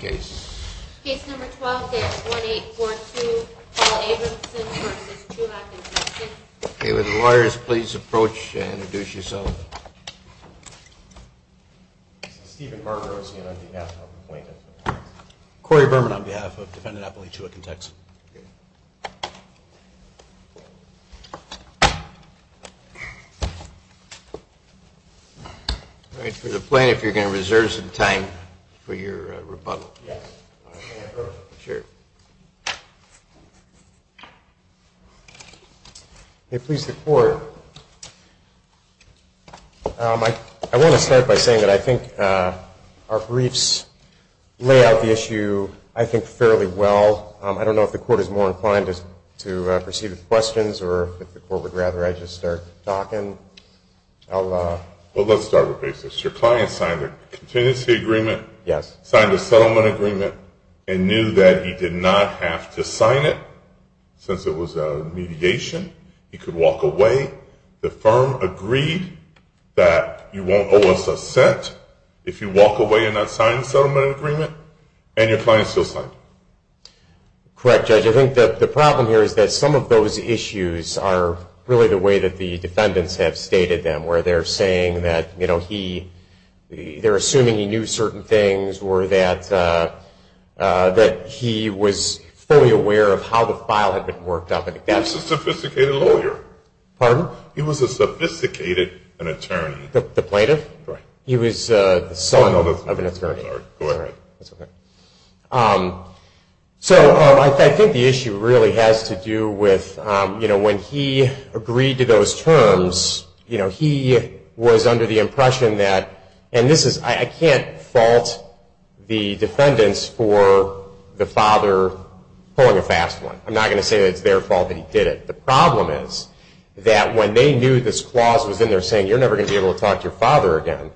Case number 12-61842, Paul Abramson v. Chuhak & Texon. Okay, would the lawyers please approach and introduce yourselves. Stephen Barberosian on behalf of the plaintiff. Corey Berman on behalf of defendant Appalichua & Texon. All right, for the plaintiff, you're going to reserve some time for your rebuttal. Yes. Sure. May it please the court, I want to start by saying that I think our briefs lay out the issue, I think, fairly well. I don't know if the court is more inclined to proceed with questions or if the court would rather I just start talking. Well, let's start with basis. Your client signed a contingency agreement, signed a settlement agreement, and knew that he did not have to sign it. Since it was a mediation, he could walk away. The firm agreed that you won't owe us a cent if you walk away and not sign the settlement agreement, and your client still signed it. Correct, Judge. I think the problem here is that some of those issues are really the way that the defendants have stated them, where they're saying that, you know, they're assuming he knew certain things or that he was fully aware of how the file had been worked out. He was a sophisticated lawyer. Pardon? He was a sophisticated attorney. The plaintiff? Right. He was the son of an attorney. Go ahead. That's okay. So I think the issue really has to do with, you know, when he agreed to those terms, you know, he was under the impression that, and this is, I can't fault the defendants for the father pulling a fast one. I'm not going to say that it's their fault that he did it. The problem is that when they knew this clause was in there saying, you're never going to be able to talk to your father again,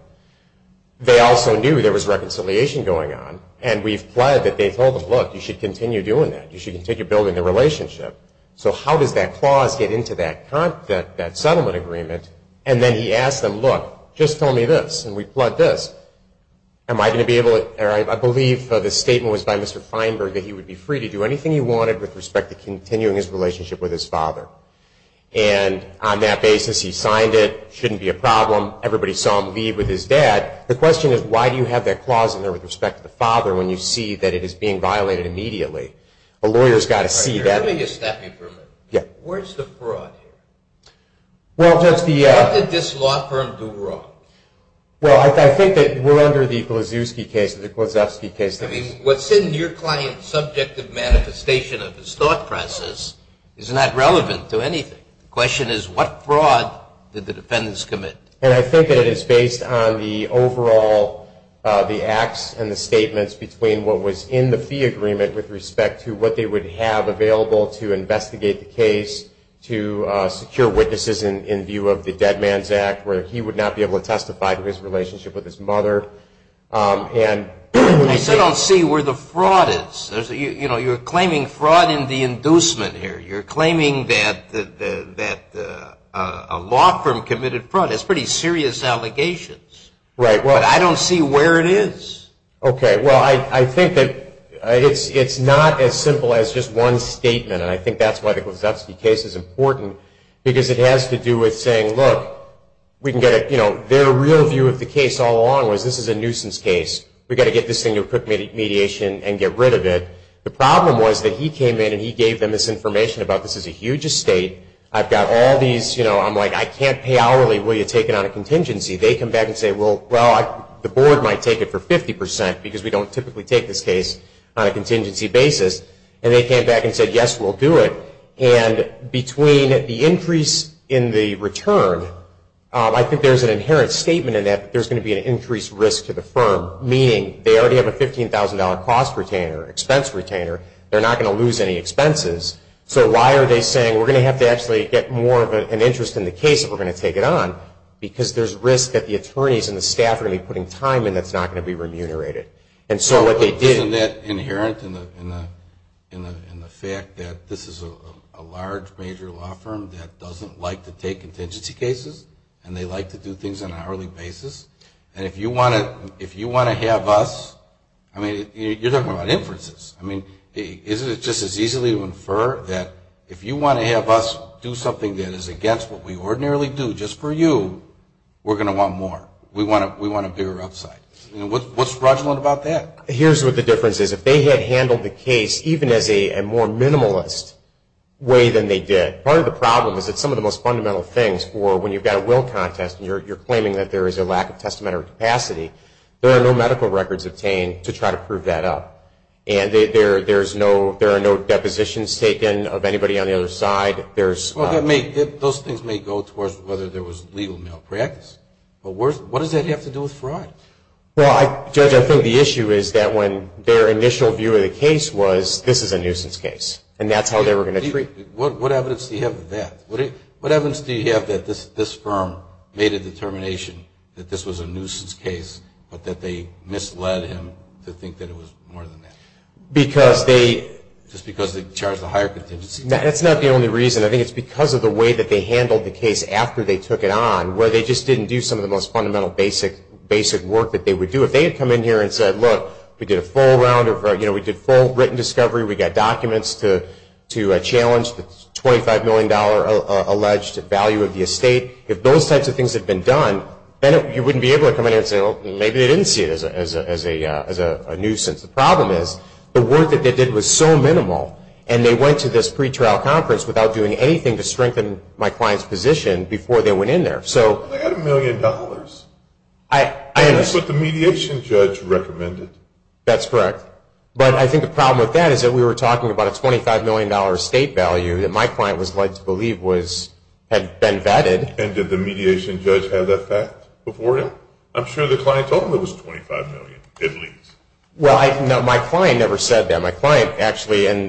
they also knew there was reconciliation going on, and we've pledged that they told him, look, you should continue doing that. You should continue building the relationship. So how does that clause get into that settlement agreement? And then he asked them, look, just tell me this, and we pledged this. Am I going to be able to, or I believe the statement was by Mr. Feinberg that he would be free to do anything he wanted with respect to continuing his relationship with his father. And on that basis, he signed it. It shouldn't be a problem. Everybody saw him leave with his dad. The question is, why do you have that clause in there with respect to the father when you see that it is being violated immediately? A lawyer has got to see that. You're giving a staffing permit. Yeah. Where's the fraud here? Well, Judge, the – What did this law firm do wrong? Well, I think that we're under the Klozewski case, the Klozewski case. I mean, what's in your client's subjective manifestation of his thought process is not relevant to anything. The question is, what fraud did the defendants commit? And I think that it is based on the overall, the acts and the statements between what was in the fee agreement with respect to what they would have available to investigate the case, to secure witnesses in view of the Dead Man's Act, where he would not be able to testify to his relationship with his mother. I still don't see where the fraud is. You're claiming fraud in the inducement here. You're claiming that a law firm committed fraud. That's pretty serious allegations. Right. But I don't see where it is. Okay. Well, I think that it's not as simple as just one statement, and I think that's why the Klozewski case is important because it has to do with saying, look, we can get a, you know, their real view of the case all along was this is a nuisance case. We've got to get this thing to a quick mediation and get rid of it. The problem was that he came in and he gave them this information about this is a huge estate. I've got all these, you know, I'm like, I can't pay hourly. Will you take it on a contingency? They come back and say, well, the board might take it for 50% because we don't typically take this case on a contingency basis. And they came back and said, yes, we'll do it. And between the increase in the return, I think there's an inherent statement in that there's going to be an increased risk to the firm, meaning they already have a $15,000 cost retainer, expense retainer. They're not going to lose any expenses. So why are they saying we're going to have to actually get more of an interest in the case if we're going to take it on because there's risk that the attorneys and the staff are going to be putting time in that's not going to be remunerated. Isn't that inherent in the fact that this is a large major law firm that doesn't like to take contingency cases and they like to do things on an hourly basis? And if you want to have us, I mean, you're talking about inferences. I mean, isn't it just as easily to infer that if you want to have us do something that is against what we ordinarily do just for you, we're going to want more. We want a bigger upside. What's fraudulent about that? Here's what the difference is. If they had handled the case even as a more minimalist way than they did, part of the problem is that some of the most fundamental things for when you've got a will contest and you're claiming that there is a lack of testamentary capacity, there are no medical records obtained to try to prove that up. And there are no depositions taken of anybody on the other side. Those things may go towards whether there was legal malpractice. But what does that have to do with fraud? Well, Judge, I think the issue is that when their initial view of the case was this is a nuisance case and that's how they were going to treat it. What evidence do you have of that? What evidence do you have that this firm made a determination that this was a nuisance case but that they misled him to think that it was more than that? Just because they charged a higher contingency? That's not the only reason. I think it's because of the way that they handled the case after they took it on, where they just didn't do some of the most fundamental basic work that they would do. If they had come in here and said, look, we did a full round, we did full written discovery, we got documents to challenge the $25 million alleged value of the estate, if those types of things had been done, then you wouldn't be able to come in here and say, well, maybe they didn't see it as a nuisance. The problem is the work that they did was so minimal, and they went to this pretrial conference without doing anything to strengthen my client's position before they went in there. They had a million dollars. And that's what the mediation judge recommended. That's correct. But I think the problem with that is that we were talking about a $25 million estate value that my client was led to believe had been vetted. And did the mediation judge have that fact before him? I'm sure the client told him it was $25 million, at least. Well, my client never said that. My client actually, and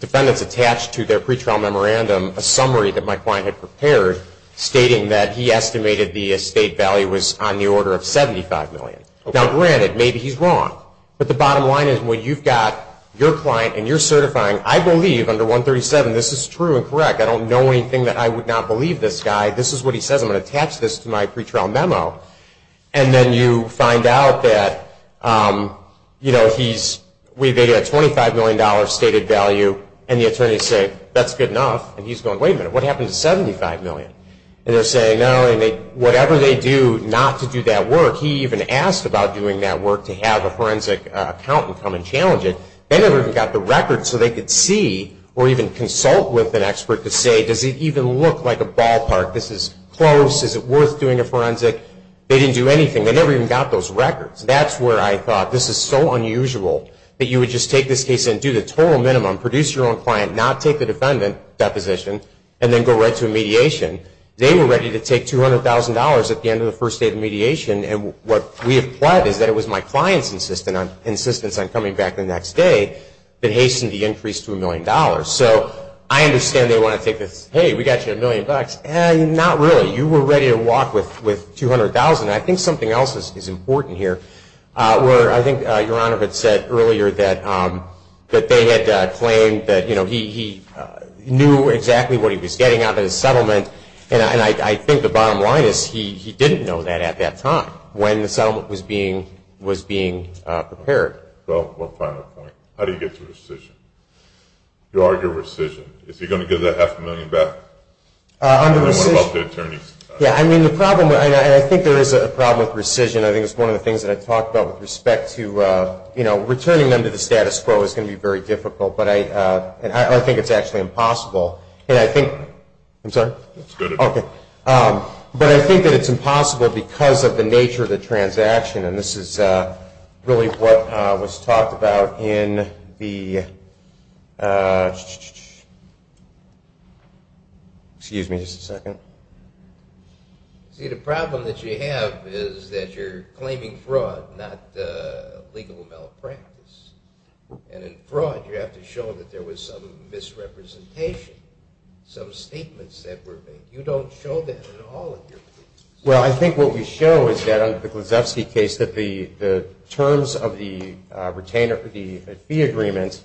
defendants attached to their pretrial memorandum a summary that my client had prepared stating that he estimated the estate value was on the order of $75 million. Now, granted, maybe he's wrong. But the bottom line is when you've got your client and you're certifying, I believe under 137 this is true and correct. I don't know anything that I would not believe this guy. This is what he says. I'm going to attach this to my pretrial memo. And then you find out that he's vetted a $25 million stated value, and the attorneys say, that's good enough. And he's going, wait a minute, what happened to $75 million? And they're saying, no, whatever they do not to do that work. He even asked about doing that work to have a forensic accountant come and challenge it. They never even got the record so they could see or even consult with an expert to say, does it even look like a ballpark? This is close. Is it worth doing a forensic? They didn't do anything. They never even got those records. That's where I thought this is so unusual that you would just take this case and do the total minimum, produce your own client, not take the defendant deposition, and then go right to a mediation. They were ready to take $200,000 at the end of the first day of mediation, and what we have pled is that it was my client's insistence on coming back the next day that hastened the increase to a million dollars. So I understand they want to take this, hey, we got you a million bucks. Not really. You were ready to walk with $200,000. I think something else is important here. I think Your Honor had said earlier that they had claimed that he knew exactly what he was getting out of the settlement, and I think the bottom line is he didn't know that at that time when the settlement was being prepared. Well, one final point. How do you get to rescission? You argue rescission. Is he going to give that half a million back? I think rescission, I think it's one of the things that I talked about with respect to, you know, returning them to the status quo is going to be very difficult, but I think it's actually impossible. And I think, I'm sorry? It's good. Okay. But I think that it's impossible because of the nature of the transaction, and this is really what was talked about in the, excuse me just a second. See, the problem that you have is that you're claiming fraud, not legal malpractice. And in fraud, you have to show that there was some misrepresentation, some statements that were made. You don't show that in all of your cases. Well, I think what we show is that under the Glazewski case, that the terms of the fee agreement,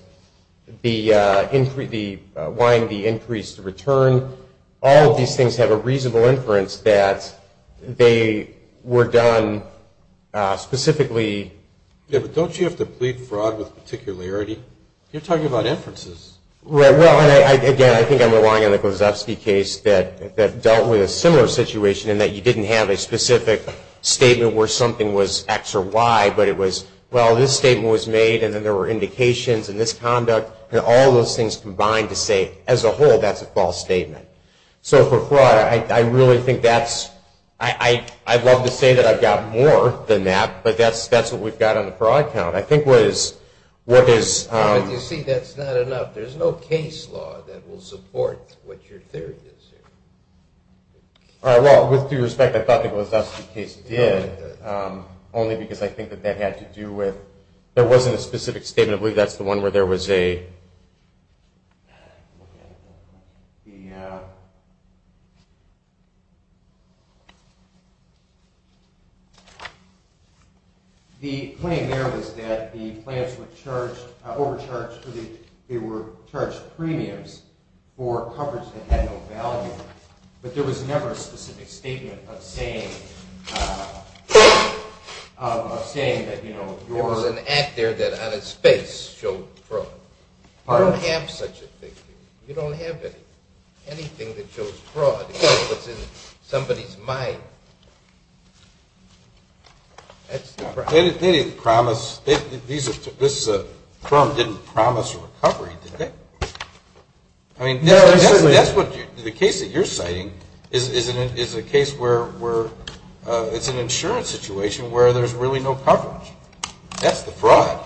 the increase, the increase return, all of these things have a reasonable inference that they were done specifically. Yeah, but don't you have to plead fraud with particularity? You're talking about inferences. Right. Well, again, I think I'm relying on the Glazewski case that dealt with a similar situation in that you didn't have a specific statement where something was X or Y, but it was, well, this statement was made, and then there were indications in this conduct, and all of those things combined to say, as a whole, that's a false statement. So for fraud, I really think that's, I'd love to say that I've got more than that, but that's what we've got on the fraud count. I think what is... You see, that's not enough. There's no case law that will support what your theory is here. All right, well, with due respect, I thought the Glazewski case did, only because I think that that had to do with, there wasn't a specific statement. I believe that's the one where there was a... The claim there was that the plants were charged, overcharged, they were charged premiums for coverage that had no value, but there was never a specific statement of saying that, you know, there was an act there that, on its face, showed fraud. You don't have such a thing. You don't have anything that shows fraud, except what's in somebody's mind. They didn't promise, this firm didn't promise a recovery, did they? I mean, the case that you're citing is a case where it's an insurance situation where there's really no coverage. That's the fraud.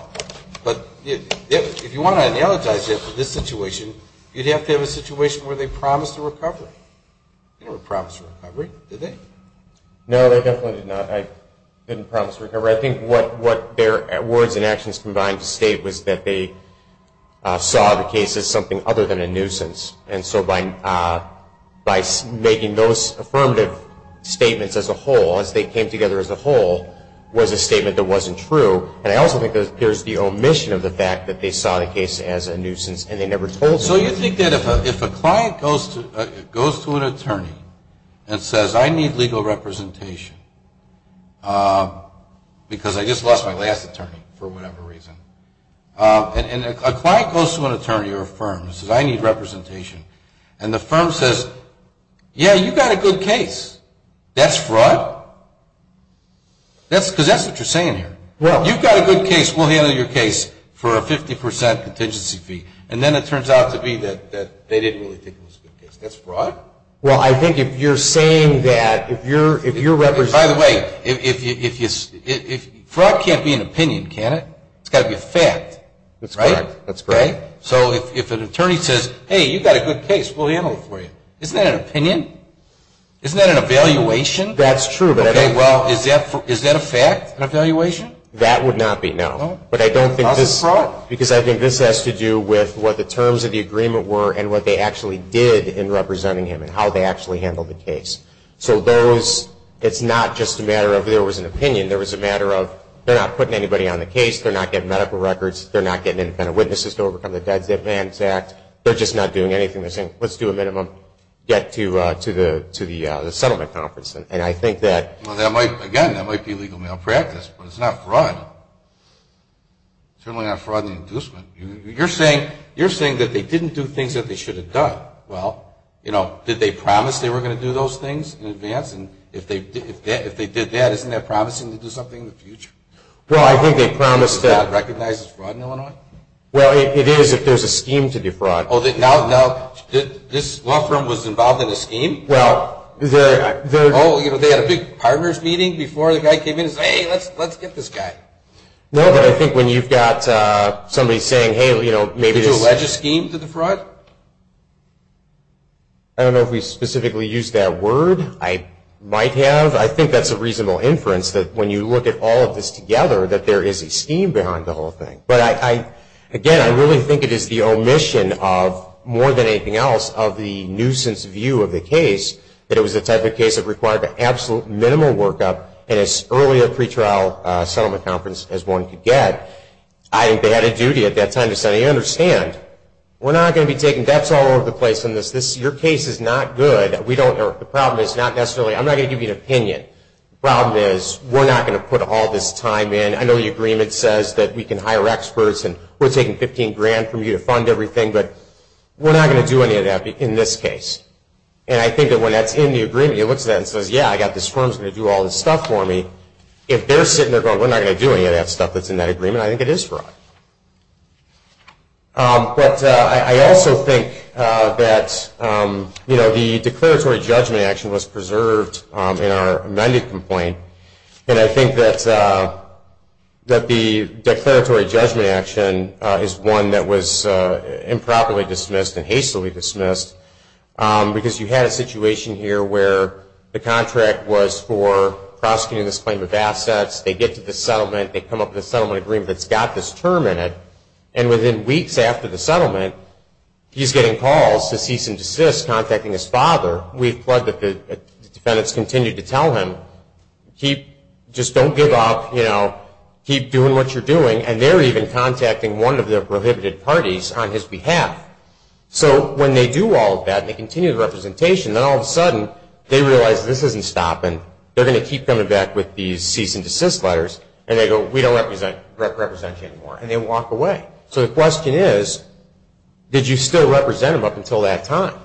But if you want to analogize it for this situation, you'd have to have a situation where they promised a recovery. They never promised a recovery, did they? No, they definitely did not. They didn't promise a recovery. I think what their words and actions combined to state was that they saw the case as something other than a nuisance. And so by making those affirmative statements as a whole, as they came together as a whole, was a statement that wasn't true. And I also think there's the omission of the fact that they saw the case as a nuisance and they never told anybody. So you think that if a client goes to an attorney and says, I need legal representation because I just lost my last attorney, for whatever reason, and a client goes to an attorney or a firm and says, I need representation, and the firm says, yeah, you've got a good case. That's fraud? Because that's what you're saying here. You've got a good case. We'll handle your case for a 50% contingency fee. And then it turns out to be that they didn't really think it was a good case. That's fraud? Well, I think if you're saying that, if you're representing. By the way, fraud can't be an opinion, can it? It's got to be a fact, right? That's correct. Okay. So if an attorney says, hey, you've got a good case. We'll handle it for you. Isn't that an opinion? Isn't that an evaluation? That's true. Okay, well, is that a fact, an evaluation? That would not be, no. But I don't think this. That's fraud? Because I think this has to do with what the terms of the agreement were and what they actually did in representing him and how they actually handled the case. So those, it's not just a matter of there was an opinion. There was a matter of they're not putting anybody on the case. They're not getting medical records. They're not getting independent witnesses to overcome the Deeds Advance Act. They're just not doing anything. They're saying, let's do a minimum, get to the settlement conference. And I think that. Well, again, that might be legal malpractice, but it's not fraud. It's certainly not fraud and inducement. You're saying that they didn't do things that they should have done. Well, you know, did they promise they were going to do those things in advance? And if they did that, isn't that promising to do something in the future? Well, I think they promised that. Do you think that recognizes fraud in Illinois? Well, it is if there's a scheme to defraud. Oh, now this law firm was involved in a scheme? Well, they had a big partners meeting before the guy came in and said, hey, let's get this guy. No, but I think when you've got somebody saying, hey, you know, maybe this. Did you allege a scheme to defraud? I don't know if we specifically used that word. I might have. I think that's a reasonable inference that when you look at all of this together, that there is a scheme behind the whole thing. But, again, I really think it is the omission of, more than anything else, of the nuisance view of the case that it was the type of case that required an absolute minimal workup and as early a pretrial settlement conference as one could get. I think they had a duty at that time to say, understand, we're not going to be taking bets all over the place on this. Your case is not good. We don't know. The problem is not necessarily. I'm not going to give you an opinion. The problem is we're not going to put all this time in. I know the agreement says that we can hire experts, and we're taking $15,000 from you to fund everything, but we're not going to do any of that in this case. And I think that when that's in the agreement, it looks at that and says, yeah, I've got this firm that's going to do all this stuff for me. If they're sitting there going, we're not going to do any of that stuff that's in that agreement, I think it is fraud. But I also think that the declaratory judgment action was preserved in our amended complaint. And I think that the declaratory judgment action is one that was improperly dismissed and hastily dismissed because you had a situation here where the contract was for prosecuting this claim of assets. They get to the settlement. They come up with a settlement agreement that's got this term in it. And within weeks after the settlement, he's getting calls to cease and desist, contacting his father. We've plugged that the defendants continue to tell him, just don't give up. Keep doing what you're doing. And they're even contacting one of the prohibited parties on his behalf. So when they do all of that and they continue the representation, then all of a sudden they realize this isn't stopping. They're going to keep coming back with these cease and desist letters, and they go, we don't represent you anymore. And they walk away. So the question is, did you still represent them up until that time?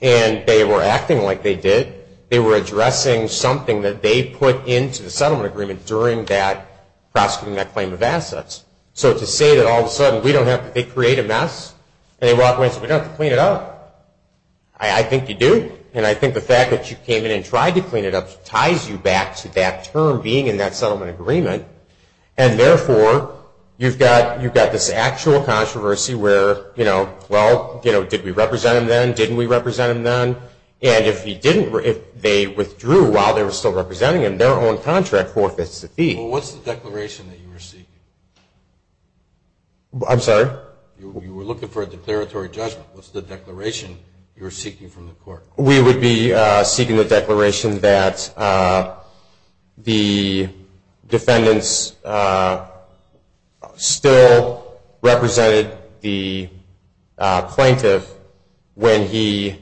And they were acting like they did. They were addressing something that they put into the settlement agreement during that prosecuting that claim of assets. So to say that all of a sudden they create a mess and they walk away and say, we don't have to clean it up. I think you do. And I think the fact that you came in and tried to clean it up ties you back to that term being in that settlement agreement. And therefore, you've got this actual controversy where, well, did we represent him then? Didn't we represent him then? And if they withdrew while they were still representing him, their own contract forfeits the fee. Well, what's the declaration that you were seeking? I'm sorry? You were looking for a declaratory judgment. What's the declaration you were seeking from the court? We would be seeking the declaration that the defendants still represented the plaintiff when they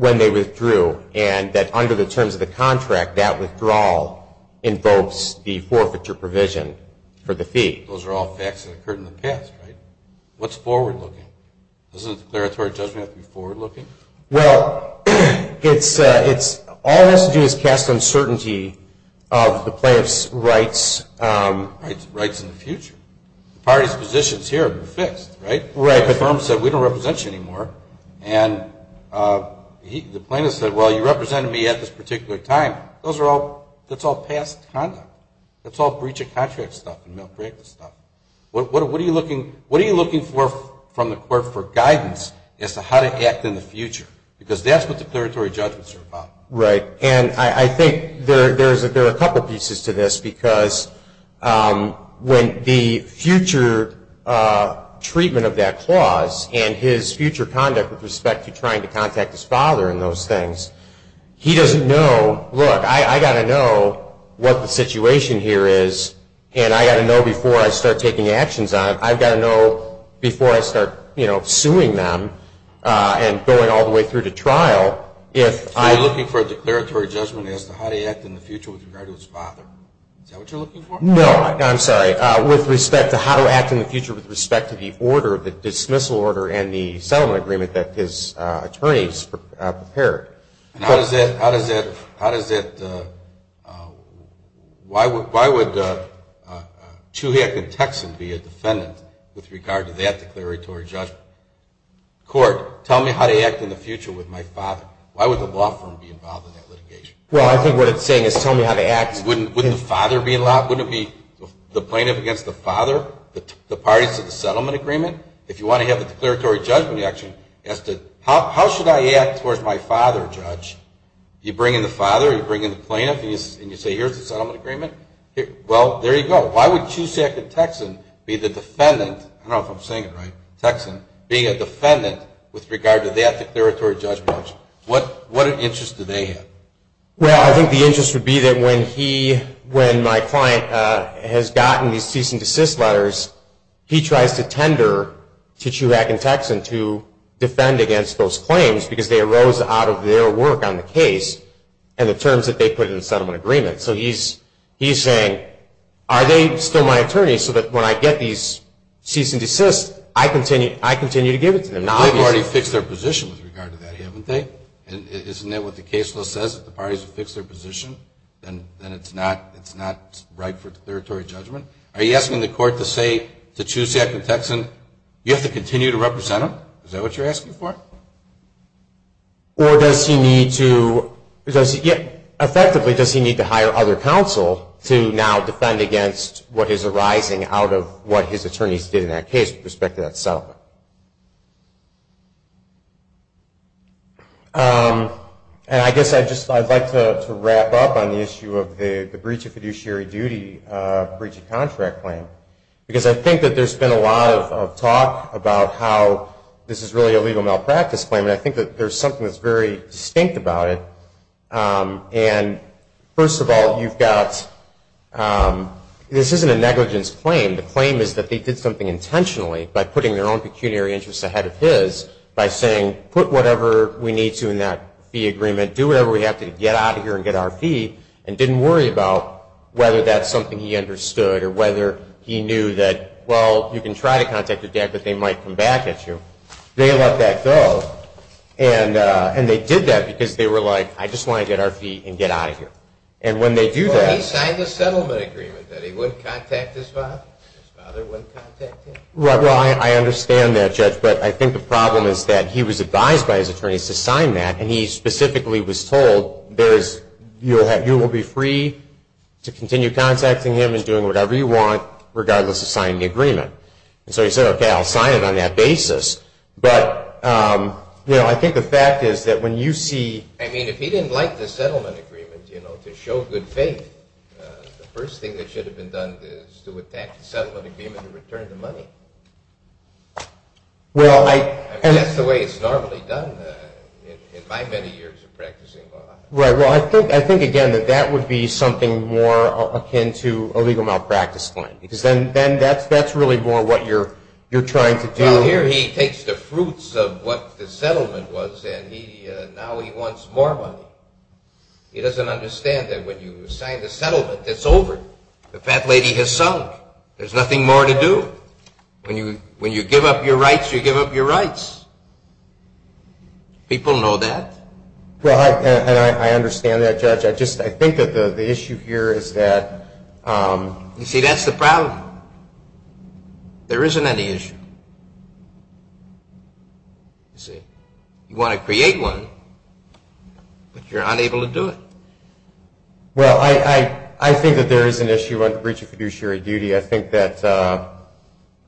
withdrew and that under the terms of the contract that withdrawal invokes the forfeiture provision for the fee. Those are all facts that occurred in the past, right? What's forward-looking? Doesn't a declaratory judgment have to be forward-looking? Well, all it has to do is cast uncertainty of the plaintiff's rights. Rights in the future. The party's positions here have been fixed, right? Right. The firm said, we don't represent you anymore. And the plaintiff said, well, you represented me at this particular time. That's all past conduct. That's all breach of contract stuff and malpractice stuff. What are you looking for from the court for guidance as to how to act in the future? Because that's what declaratory judgments are about. Right. And I think there are a couple pieces to this because when the future treatment of that clause and his future conduct with respect to trying to contact his father and those things, he doesn't know, look, I've got to know what the situation here is, and I've got to know before I start taking actions on it. I've got to know before I start suing them and going all the way through to trial. So you're looking for a declaratory judgment as to how to act in the future with regard to his father. Is that what you're looking for? No. I'm sorry. With respect to how to act in the future with respect to the order, the dismissal order, and the settlement agreement that his attorneys prepared. How does that – why would Chuhiak and Texan be a defendant with regard to that declaratory judgment? Court, tell me how to act in the future with my father. Why would the law firm be involved in that litigation? Well, I think what it's saying is tell me how to act. Wouldn't the father be – wouldn't it be the plaintiff against the father, the parties to the settlement agreement? If you want to have a declaratory judgment action, how should I act towards my father, Judge? You bring in the father, you bring in the plaintiff, and you say here's the settlement agreement? Well, there you go. Why would Chuhiak and Texan be the defendant – I don't know if I'm saying it right – Texan being a defendant with regard to that declaratory judgment? What interest do they have? Well, I think the interest would be that when my client has gotten these cease and desist letters, he tries to tender to Chuhiak and Texan to defend against those claims because they arose out of their work on the case and the terms that they put in the settlement agreement. So he's saying, are they still my attorneys so that when I get these cease and desist, I continue to give it to them? They've already fixed their position with regard to that, haven't they? Isn't that what the case law says? If the parties have fixed their position, then it's not right for declaratory judgment? Are you asking the court to say to Chuhiak and Texan, you have to continue to represent them? Is that what you're asking for? Or effectively, does he need to hire other counsel to now defend against what is arising out of what his attorneys did in that case with respect to that settlement? And I guess I'd just like to wrap up on the issue of the breach of fiduciary duty, breach of contract claim. Because I think that there's been a lot of talk about how this is really a legal malpractice claim. And I think that there's something that's very distinct about it. And first of all, you've got, this isn't a negligence claim. The claim is that they did something intentionally by putting their own people in jail. They put their own pecuniary interests ahead of his by saying, put whatever we need to in that fee agreement. Do whatever we have to to get out of here and get our fee. And didn't worry about whether that's something he understood or whether he knew that, well, you can try to contact your dad, but they might come back at you. They let that go. And they did that because they were like, I just want to get our fee and get out of here. And when they do that. Well, he signed a settlement agreement that he wouldn't contact his father. His father wouldn't contact him. Well, I understand that, Judge. But I think the problem is that he was advised by his attorneys to sign that. And he specifically was told, you will be free to continue contacting him and doing whatever you want, regardless of signing the agreement. And so he said, okay, I'll sign it on that basis. But, you know, I think the fact is that when you see. I mean, if he didn't like the settlement agreement, you know, to show good faith, the first thing that should have been done is to attack the settlement agreement and return the money. Well, I. I mean, that's the way it's normally done in my many years of practicing law. Right. Well, I think, again, that that would be something more akin to a legal malpractice claim. Because then that's really more what you're trying to do. Well, here he takes the fruits of what the settlement was, and now he wants more money. He doesn't understand that when you sign the settlement, it's over. The fat lady has sunk. There's nothing more to do. When you give up your rights, you give up your rights. People know that. Well, I understand that, Judge. I just. I think that the issue here is that. You see, that's the problem. There isn't any issue. You see, you want to create one, but you're unable to do it. Well, I think that there is an issue on the breach of fiduciary duty. I think that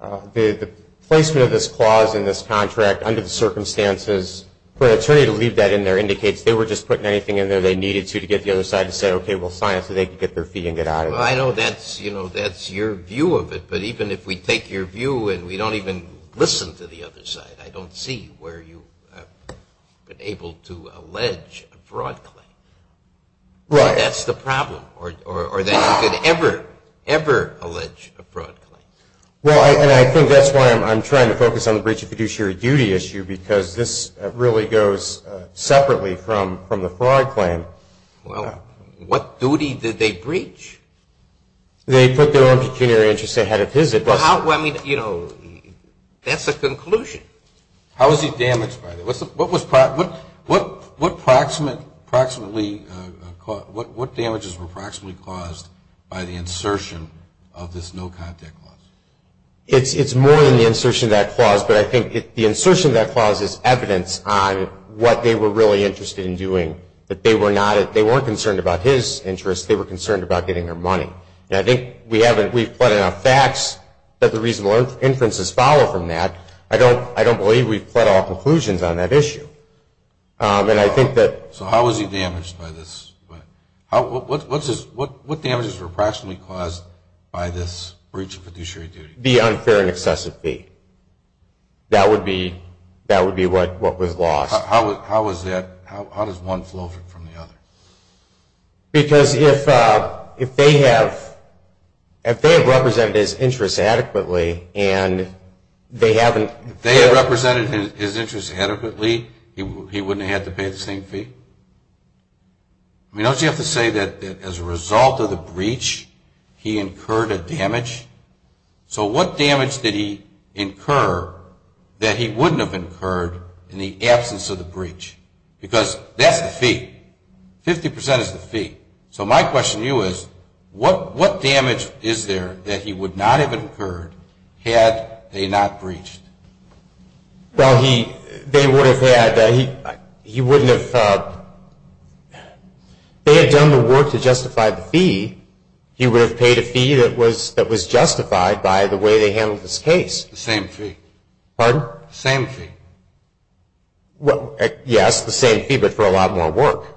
the placement of this clause in this contract under the circumstances, for an attorney to leave that in there indicates they were just putting anything in there they needed to to get the other side to say, okay, we'll sign it so they can get their fee and get out of it. Well, I know that's, you know, that's your view of it. But even if we take your view and we don't even listen to the other side, I don't see where you have been able to allege a fraud claim. Right. That's the problem, or that you could ever, ever allege a fraud claim. Well, and I think that's why I'm trying to focus on the breach of fiduciary duty issue, because this really goes separately from the fraud claim. Well, what duty did they breach? They put their own pecuniary interests ahead of his. Well, I mean, you know, that's the conclusion. How was he damaged by that? What was, what proximate, approximately, what damages were approximately caused by the insertion of this no-contact clause? It's more than the insertion of that clause, but I think the insertion of that clause is evidence on what they were really interested in doing, that they were not, they weren't concerned about his interests, they were concerned about getting their money. And I think we haven't, we've put enough facts that the reasonable inferences follow from that. I don't believe we've put all conclusions on that issue. And I think that. So how was he damaged by this? What damages were approximately caused by this breach of fiduciary duty? The unfair and excessive fee. That would be, that would be what was lost. How was that, how does one flow from the other? Because if they have, if they have represented his interests adequately, and they haven't. If they had represented his interests adequately, he wouldn't have had to pay the same fee? I mean, don't you have to say that as a result of the breach, he incurred a damage? So what damage did he incur that he wouldn't have incurred in the absence of the breach? Because that's the fee. Fifty percent is the fee. So my question to you is, what damage is there that he would not have incurred had they not breached? Well, he, they would have had, he wouldn't have, they had done the work to justify the fee. He would have paid a fee that was justified by the way they handled this case. The same fee. Pardon? The same fee. Well, yes, the same fee, but for a lot more work.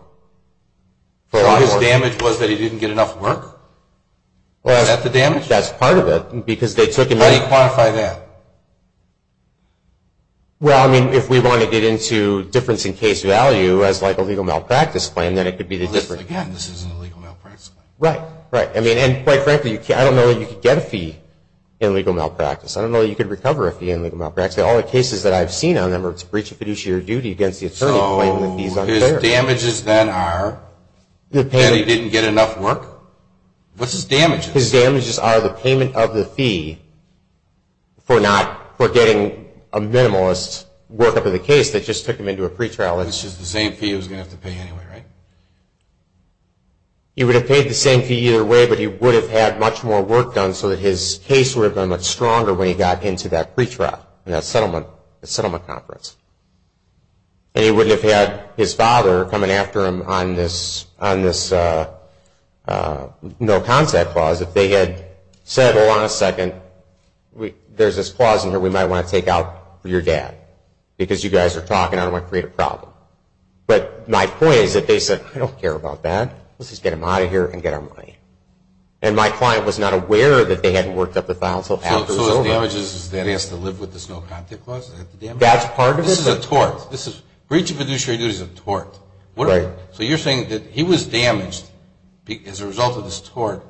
So his damage was that he didn't get enough work? Is that the damage? That's part of it. Because they took in money. How do you quantify that? Well, I mean, if we want to get into difference in case value as like a legal malpractice claim, then it could be the difference. Again, this isn't a legal malpractice claim. Right, right. I mean, and quite frankly, I don't know that you could get a fee in legal malpractice. I don't know that you could recover a fee in legal malpractice. All the cases that I've seen on them are it's breach of fiduciary duty against the attorney for claiming the fee is unfair. So his damages then are that he didn't get enough work? What's his damages? His damages are the payment of the fee for not, for getting a minimalist workup of the case that just took him into a pretrial. It's just the same fee he was going to have to pay anyway, right? He would have paid the same fee either way, but he would have had much more work done so that his case would have been much stronger when he got into that pretrial, in that settlement conference. And he wouldn't have had his father coming after him on this no contact clause if they had said, hold on a second, there's this clause in here we might want to take out for your dad because you guys are talking and I don't want to create a problem. But my point is that they said, I don't care about that. Let's just get him out of here and get our money. And my client was not aware that they hadn't worked up the file until after it was over. So his damages is that he has to live with this no contact clause? That's part of it. This is a tort. Breach of fiduciary duty is a tort. Right. So you're saying that he was damaged as a result of this tort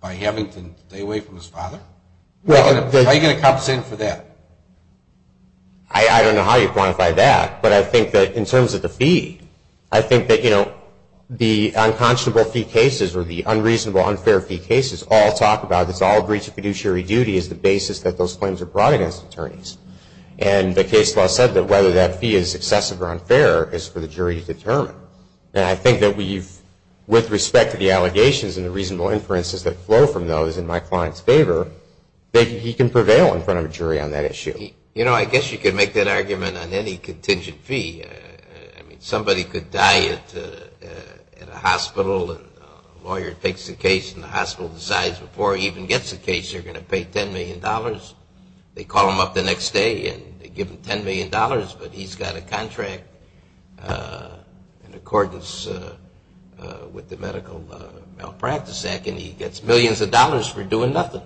by having to stay away from his father? How are you going to compensate him for that? I don't know how you quantify that, but I think that in terms of the fee, I think that the unconscionable fee cases or the unreasonable unfair fee cases all talk about this. All breach of fiduciary duty is the basis that those claims are brought against attorneys. And the case law said that whether that fee is excessive or unfair is for the jury to determine. And I think that with respect to the allegations and the reasonable inferences that flow from those in my client's favor, he can prevail in front of a jury on that issue. I guess you could make that argument on any contingent fee. Somebody could die at a hospital and a lawyer takes the case and the hospital decides before he even gets the case they're going to pay $10 million. They call him up the next day and they give him $10 million, but he's got a contract in accordance with the medical malpractice act and he gets millions of dollars for doing nothing.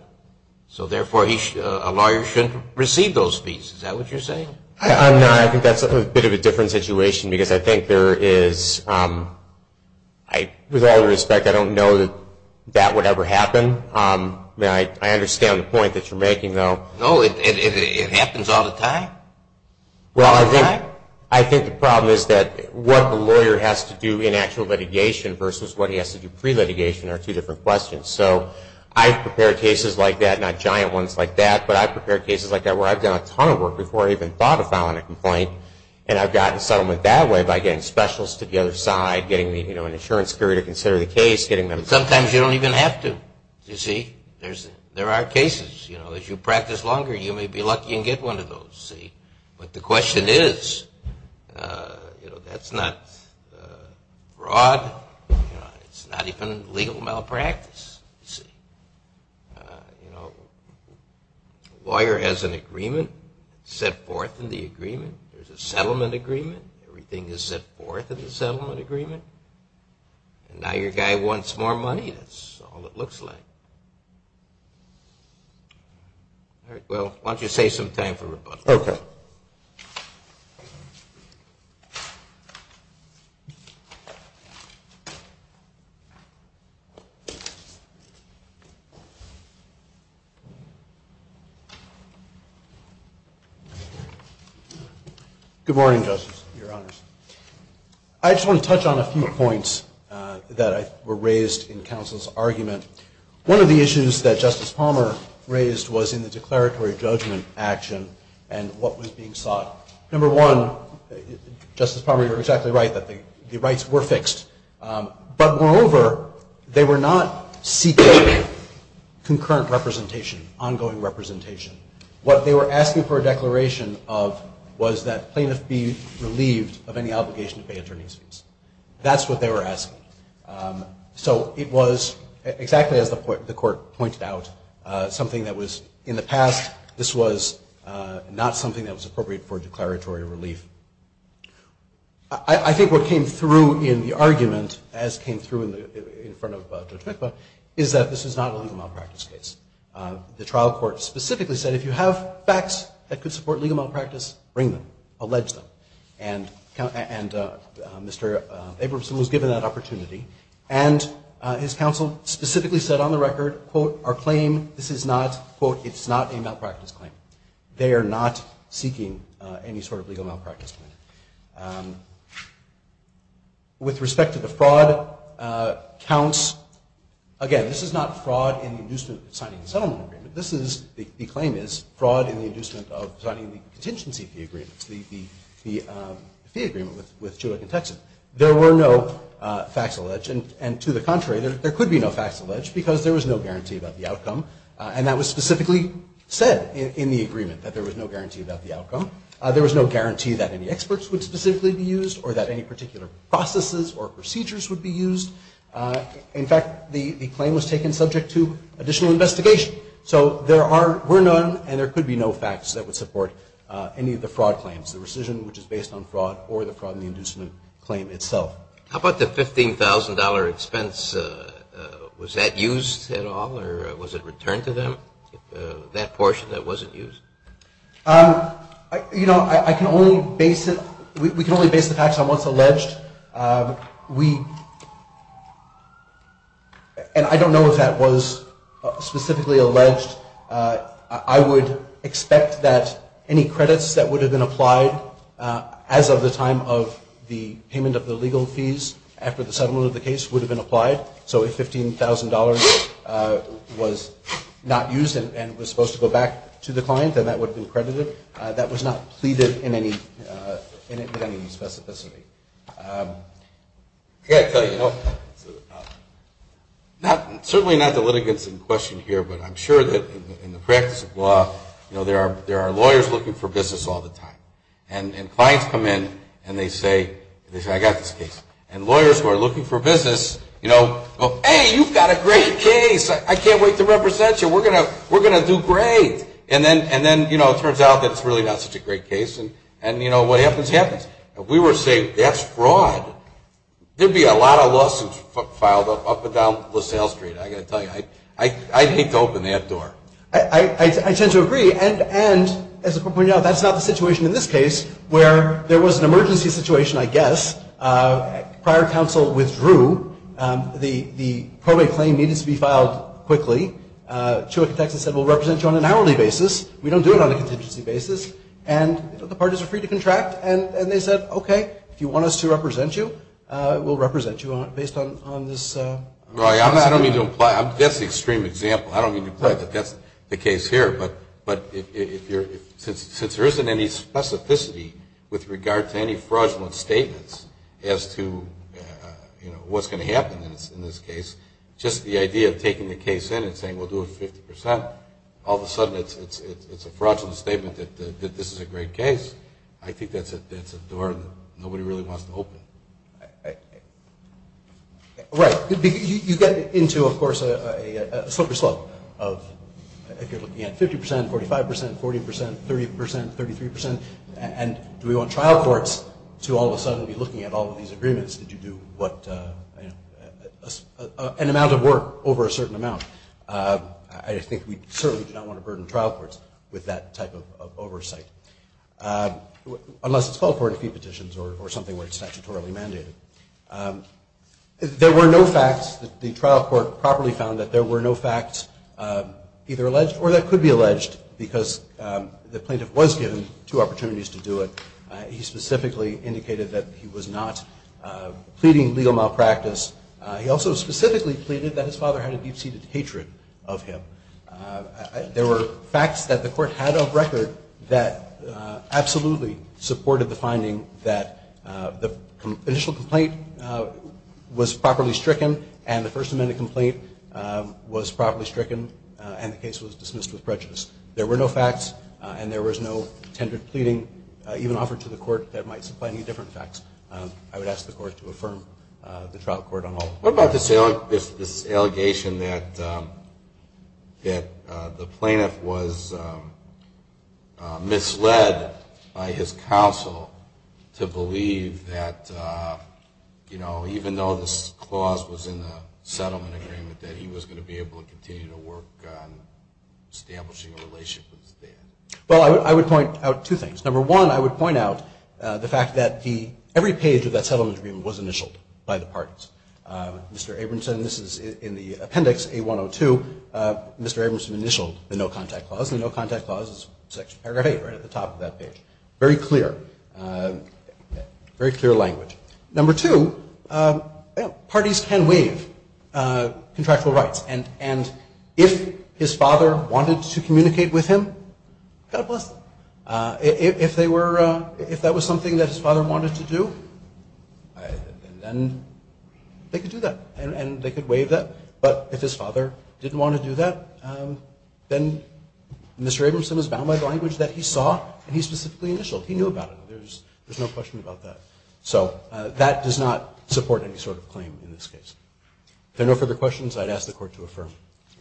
So therefore a lawyer shouldn't receive those fees. Is that what you're saying? No, I think that's a bit of a different situation because I think there is, with all due respect, I don't know that that would ever happen. I understand the point that you're making, though. No, it happens all the time. Well, I think the problem is that what the lawyer has to do in actual litigation versus what he has to do pre-litigation are two different questions. So I've prepared cases like that, not giant ones like that, but I've prepared cases like that where I've done a ton of work before I even thought of filing a complaint and I've gotten settlement that way by getting specialists to the other side, getting an insurance courier to consider the case. Sometimes you don't even have to. There are cases. As you practice longer you may be lucky and get one of those. But the question is, that's not broad. It's not even legal malpractice. A lawyer has an agreement set forth in the agreement. There's a settlement agreement. Everything is set forth in the settlement agreement. And now your guy wants more money. That's all it looks like. All right. Well, why don't you save some time for rebuttal. Okay. Good morning, Justice, Your Honors. I just want to touch on a few points that were raised in counsel's argument. One of the issues that Justice Palmer raised was in the declaratory judgment action and what was being sought. Number one, Justice Palmer, you're exactly right that the rights were fixed. But moreover, they were not seeking concurrent representation, ongoing representation. What they were asking for a declaration of was that plaintiffs be relieved of any obligation to pay attorney's fees. That's what they were asking. So it was exactly as the court pointed out, something that was in the past. This was not something that was appropriate for declaratory relief. I think what came through in the argument, as came through in front of Judge Mikva, is that this is not a legal malpractice case. The trial court specifically said, if you have facts that could support legal malpractice, bring them. Allege them. And Mr. Abramson was given that opportunity. And his counsel specifically said on the record, quote, our claim, this is not, quote, it's not a malpractice claim. They are not seeking any sort of legal malpractice claim. With respect to the fraud counts, again, this is not fraud in the inducement of signing the settlement agreement. This is, the claim is, fraud in the inducement of signing the contingency fee agreement, the fee agreement with Chulak and Texan. There were no facts alleged. And to the contrary, there could be no facts alleged because there was no guarantee about the outcome. And that was specifically said in the agreement, that there was no guarantee about the outcome. There was no guarantee that any experts would specifically be used or that any particular processes or procedures would be used. In fact, the claim was taken subject to additional investigation. So there are, were none and there could be no facts that would support any of the fraud claims, the rescission which is based on fraud or the fraud in the inducement claim itself. How about the $15,000 expense? Was that used at all or was it returned to them, that portion that wasn't used? You know, I can only base it, we can only base the facts on what's alleged. We, and I don't know if that was specifically alleged. I would expect that any credits that would have been applied as of the time of the payment of the legal fees after the settlement of the case would have been applied. So if $15,000 was not used and was supposed to go back to the client, then that would have been credited. That was not pleaded in any specificity. I got to tell you, certainly not the litigants in question here, but I'm sure that in the practice of law, you know, there are lawyers looking for business all the time. And clients come in and they say, I got this case. And lawyers who are looking for business, you know, go, hey, you've got a great case. I can't wait to represent you. We're going to do great. And then, you know, it turns out that it's really not such a great case. And, you know, what happens, happens. If we were to say that's fraud, there would be a lot of lawsuits filed up and down LaSalle Street. I got to tell you, I'd hate to open that door. I tend to agree. And as a point out, that's not the situation in this case where there was an emergency situation, I guess. Prior counsel withdrew. The probate claim needed to be filed quickly. Chewick, Texas said we'll represent you on an hourly basis. We don't do it on a contingency basis. And the parties are free to contract. And they said, okay, if you want us to represent you, we'll represent you based on this. I don't mean to imply. That's the extreme example. I don't mean to imply that that's the case here. But since there isn't any specificity with regard to any fraudulent statements as to, you know, what's going to happen in this case, just the idea of taking the case in and saying we'll do it 50%, all of a sudden it's a fraudulent statement that this is a great case, I think that's a door that nobody really wants to open. Right. You get into, of course, a slippery slope of if you're looking at 50%, 45%, 40%, 30%, 33%. And do we want trial courts to all of a sudden be looking at all of these agreements? Did you do what, you know, an amount of work over a certain amount? I think we certainly do not want to burden trial courts with that type of oversight, unless it's called for in a few petitions or something where it's statutorily mandated. There were no facts that the trial court properly found that there were no facts either alleged or that could be alleged because the plaintiff was given two opportunities to do it. He specifically indicated that he was not pleading legal malpractice. He also specifically pleaded that his father had a deep-seated hatred of him. There were facts that the court had of record that absolutely supported the finding that the initial complaint was properly stricken and the First Amendment complaint was properly stricken and the case was dismissed with prejudice. There were no facts and there was no tendered pleading even offered to the court that might supply any different facts. I would ask the court to affirm the trial court on all of that. What about this allegation that the plaintiff was misled by his counsel to believe that, you know, even though this clause was in the settlement agreement, that he was going to be able to continue to work on establishing a relationship with his dad? Well, I would point out two things. Number one, I would point out the fact that every page of that settlement agreement was initialed by the parties. Mr. Abramson, this is in the Appendix A-102, Mr. Abramson initialed the no-contact clause and the no-contact clause is Section Paragraph 8 right at the top of that page. Very clear. Very clear language. Number two, parties can waive contractual rights and if his father wanted to communicate with him, God bless them. If that was something that his father wanted to do, then they could do that and they could waive that. But if his father didn't want to do that, then Mr. Abramson is bound by the language that he saw and he specifically initialed. He knew about it. There's no question about that. So that does not support any sort of claim in this case. If there are no further questions, I'd ask the Court to affirm.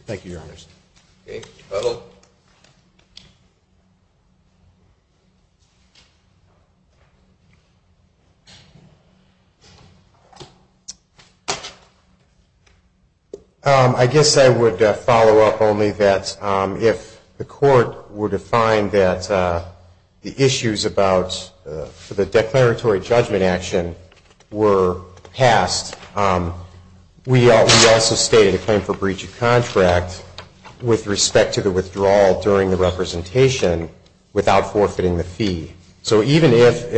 Thank you, Your Honors. Uh-oh. I guess I would follow up only that if the Court were to find that the issues about the declaratory judgment were passed, we also stated a claim for breach of contract with respect to the withdrawal during the representation without forfeiting the fee. So even if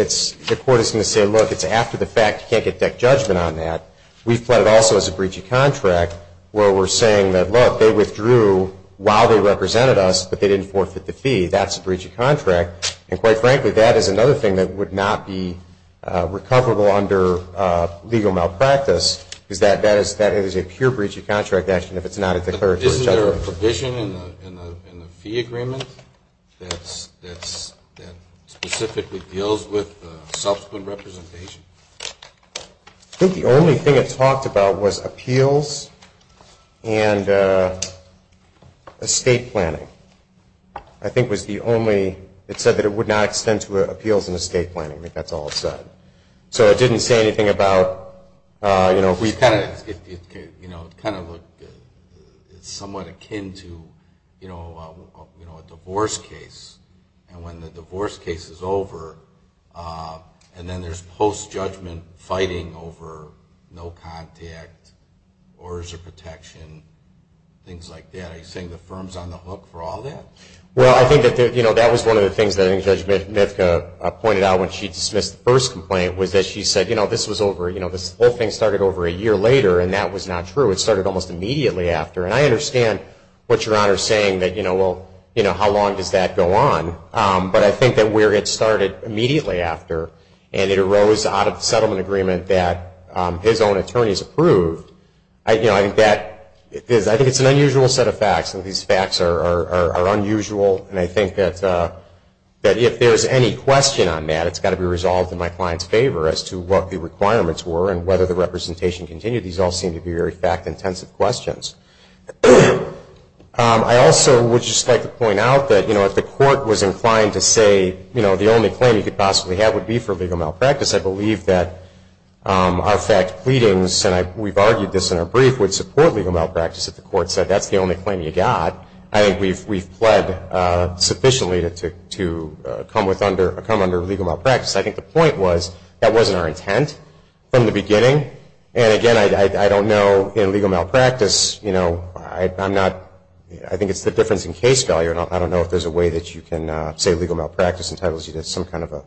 the Court is going to say, look, it's after the fact, you can't get deck judgment on that, we've plotted also as a breach of contract where we're saying that, look, they withdrew while they represented us, but they didn't forfeit the fee. That's a breach of contract. And quite frankly, that is another thing that would not be recoverable under legal malpractice, is that that is a pure breach of contract action if it's not a declaratory judgment. Isn't there a provision in the fee agreement that specifically deals with subsequent representation? I think the only thing it talked about was appeals and estate planning. I think it was the only, it said that it would not extend to appeals and estate planning. I think that's all it said. So it didn't say anything about, you know. It kind of looked somewhat akin to, you know, a divorce case. And when the divorce case is over, and then there's post-judgment fighting over no contact, orders of protection, things like that. Are you saying the firm's on the hook for all that? Well, I think that was one of the things that I think Judge Mitka pointed out when she dismissed the first complaint, was that she said, you know, this whole thing started over a year later, and that was not true. It started almost immediately after. And I understand what Your Honor is saying, that, you know, well, how long does that go on? But I think that where it started immediately after, and it arose out of the settlement agreement that his own attorneys approved, you know, I think that is, I think it's an unusual set of facts. These facts are unusual, and I think that if there's any question on that, it's got to be resolved in my client's favor as to what the requirements were and whether the representation continued. These all seem to be very fact-intensive questions. I also would just like to point out that, you know, if the court was inclined to say, you know, the only claim you could possibly have would be for legal malpractice, I believe that our fact pleadings, and we've argued this in our brief, would support legal malpractice if the court said that's the only claim you got. I think we've pled sufficiently to come under legal malpractice. I think the point was that wasn't our intent from the beginning. And, again, I don't know in legal malpractice, you know, I'm not, I think it's the difference in case value, and I don't know if there's a way that you can say legal malpractice entitles you to some kind of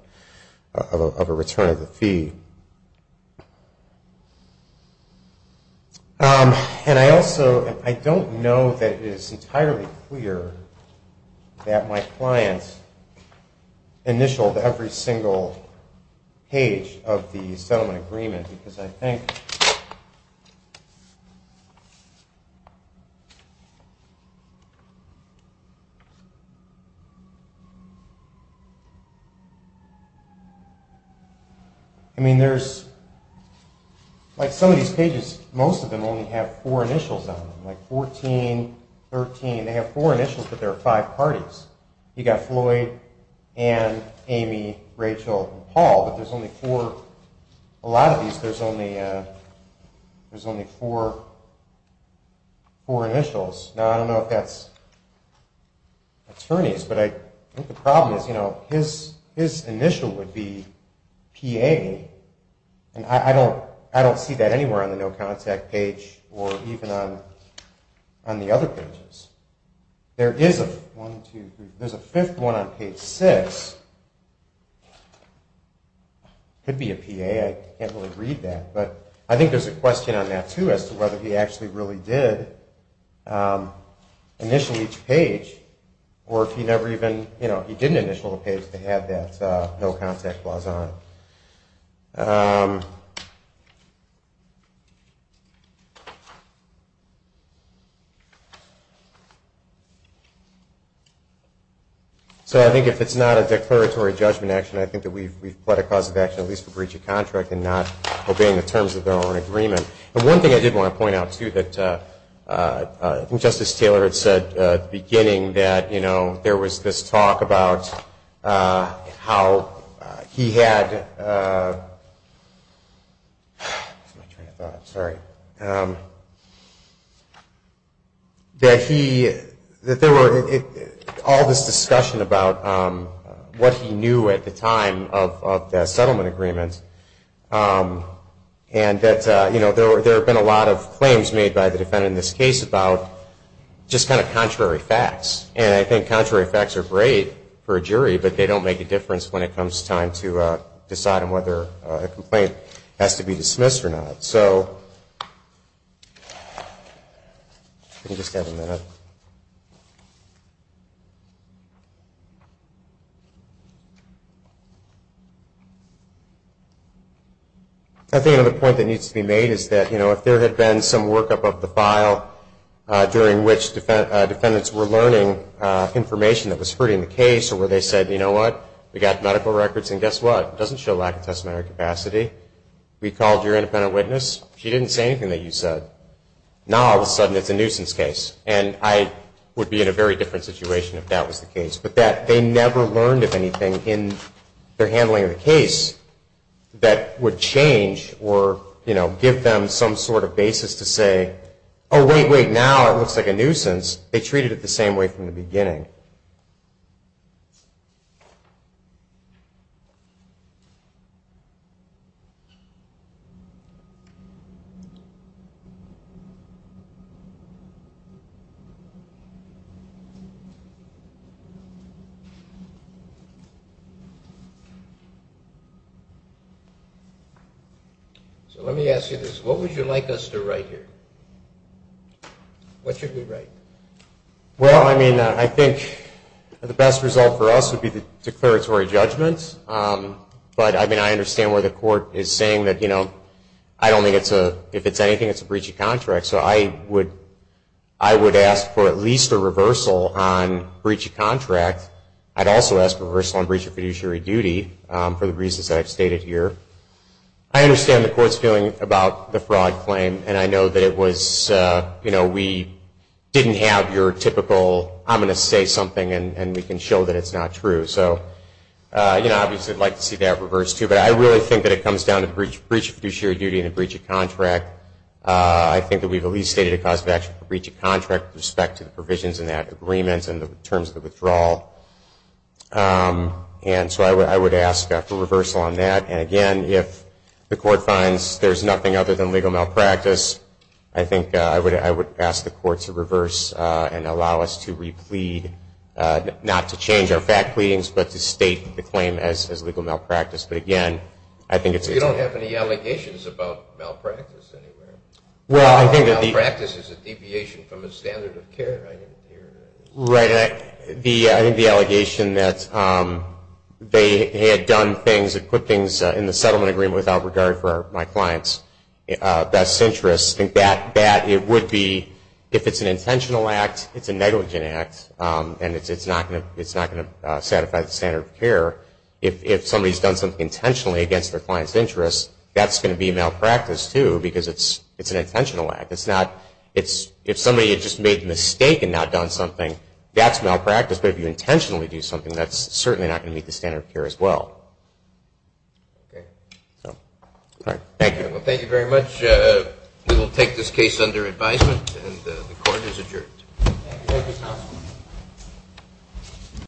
a return of the fee. And I also, I don't know that it's entirely clear that my clients initialed every single page of the settlement agreement, because I think, I mean, there's, like some of these pages, most of them only have four initials on them, like 14, 13, they have four initials, but there are five parties. You've got Floyd, Ann, Amy, Rachel, and Paul, but there's only four, a lot of these, there's only four initials. Now, I don't know if that's attorneys, but I think the problem is, you know, his initial would be PA, and I don't see that anywhere on the No Contact page, or even on the other pages. There is a, one, two, three, there's a fifth one on page six, could be a PA, I can't really read that, but I think there's a question on that, too, as to whether he actually really did initial each page, or if he never even, you know, So I think if it's not a declaratory judgment action, I think that we've pled a cause of action, at least for breach of contract, and not obeying the terms of their own agreement. But one thing I did want to point out, too, that I think Justice Taylor had said at the beginning, that, you know, there was this talk about how he had, that he, that there were, all this discussion about what he knew at the time of the settlement agreement, and that, you know, there have been a lot of claims made by the defendant in this case about just kind of contrary facts, and I think contrary facts are great for a jury, but they don't make a difference when it comes time to decide on whether a complaint has to be dismissed or not. So, if we can just have a minute. I think another point that needs to be made is that, you know, if there had been some workup of the file during which defendants were learning information that was hurting the case, or where they said, you know what, we got medical records, and guess what, it doesn't show lack of testimony or capacity, we called your independent witness, she didn't say anything that you said, now all of a sudden it's a nuisance case. And I would be in a very different situation if that was the case. But that they never learned, if anything, in their handling of the case, that would change or, you know, give them some sort of basis to say, oh, wait, wait, now it looks like a nuisance. Because they treated it the same way from the beginning. So let me ask you this, what would you like us to write here? What should we write? Well, I mean, I think the best result for us would be the declaratory judgment. But, I mean, I understand where the court is saying that, you know, I don't think it's a, if it's anything, it's a breach of contract. So I would ask for at least a reversal on breach of contract. I'd also ask for a reversal on breach of fiduciary duty for the reasons that I've stated here. I understand the court's feeling about the fraud claim. And I know that it was, you know, we didn't have your typical, I'm going to say something and we can show that it's not true. So, you know, obviously I'd like to see that reversed too. But I really think that it comes down to breach of fiduciary duty and a breach of contract. I think that we've at least stated a cause of action for breach of contract with respect to the provisions in that agreement and the terms of the withdrawal. And so I would ask for a reversal on that. And, again, if the court finds there's nothing other than legal malpractice, I think I would ask the court to reverse and allow us to replead, not to change our fact pleadings, but to state the claim as legal malpractice. But, again, I think it's a... You don't have any allegations about malpractice anywhere. Well, I think that the... Malpractice is a deviation from the standard of care, I hear. Right. I think the allegation that they had done things, had put things in the settlement agreement without regard for my client's best interests, I think that it would be, if it's an intentional act, it's a negligent act, and it's not going to satisfy the standard of care. If somebody's done something intentionally against their client's interests, that's going to be malpractice too because it's an intentional act. If somebody had just made a mistake and not done something, that's malpractice. But if you intentionally do something, that's certainly not going to meet the standard of care as well. Okay. All right. Thank you. Well, thank you very much. We will take this case under advisement, and the court is adjourned. Thank you, counsel.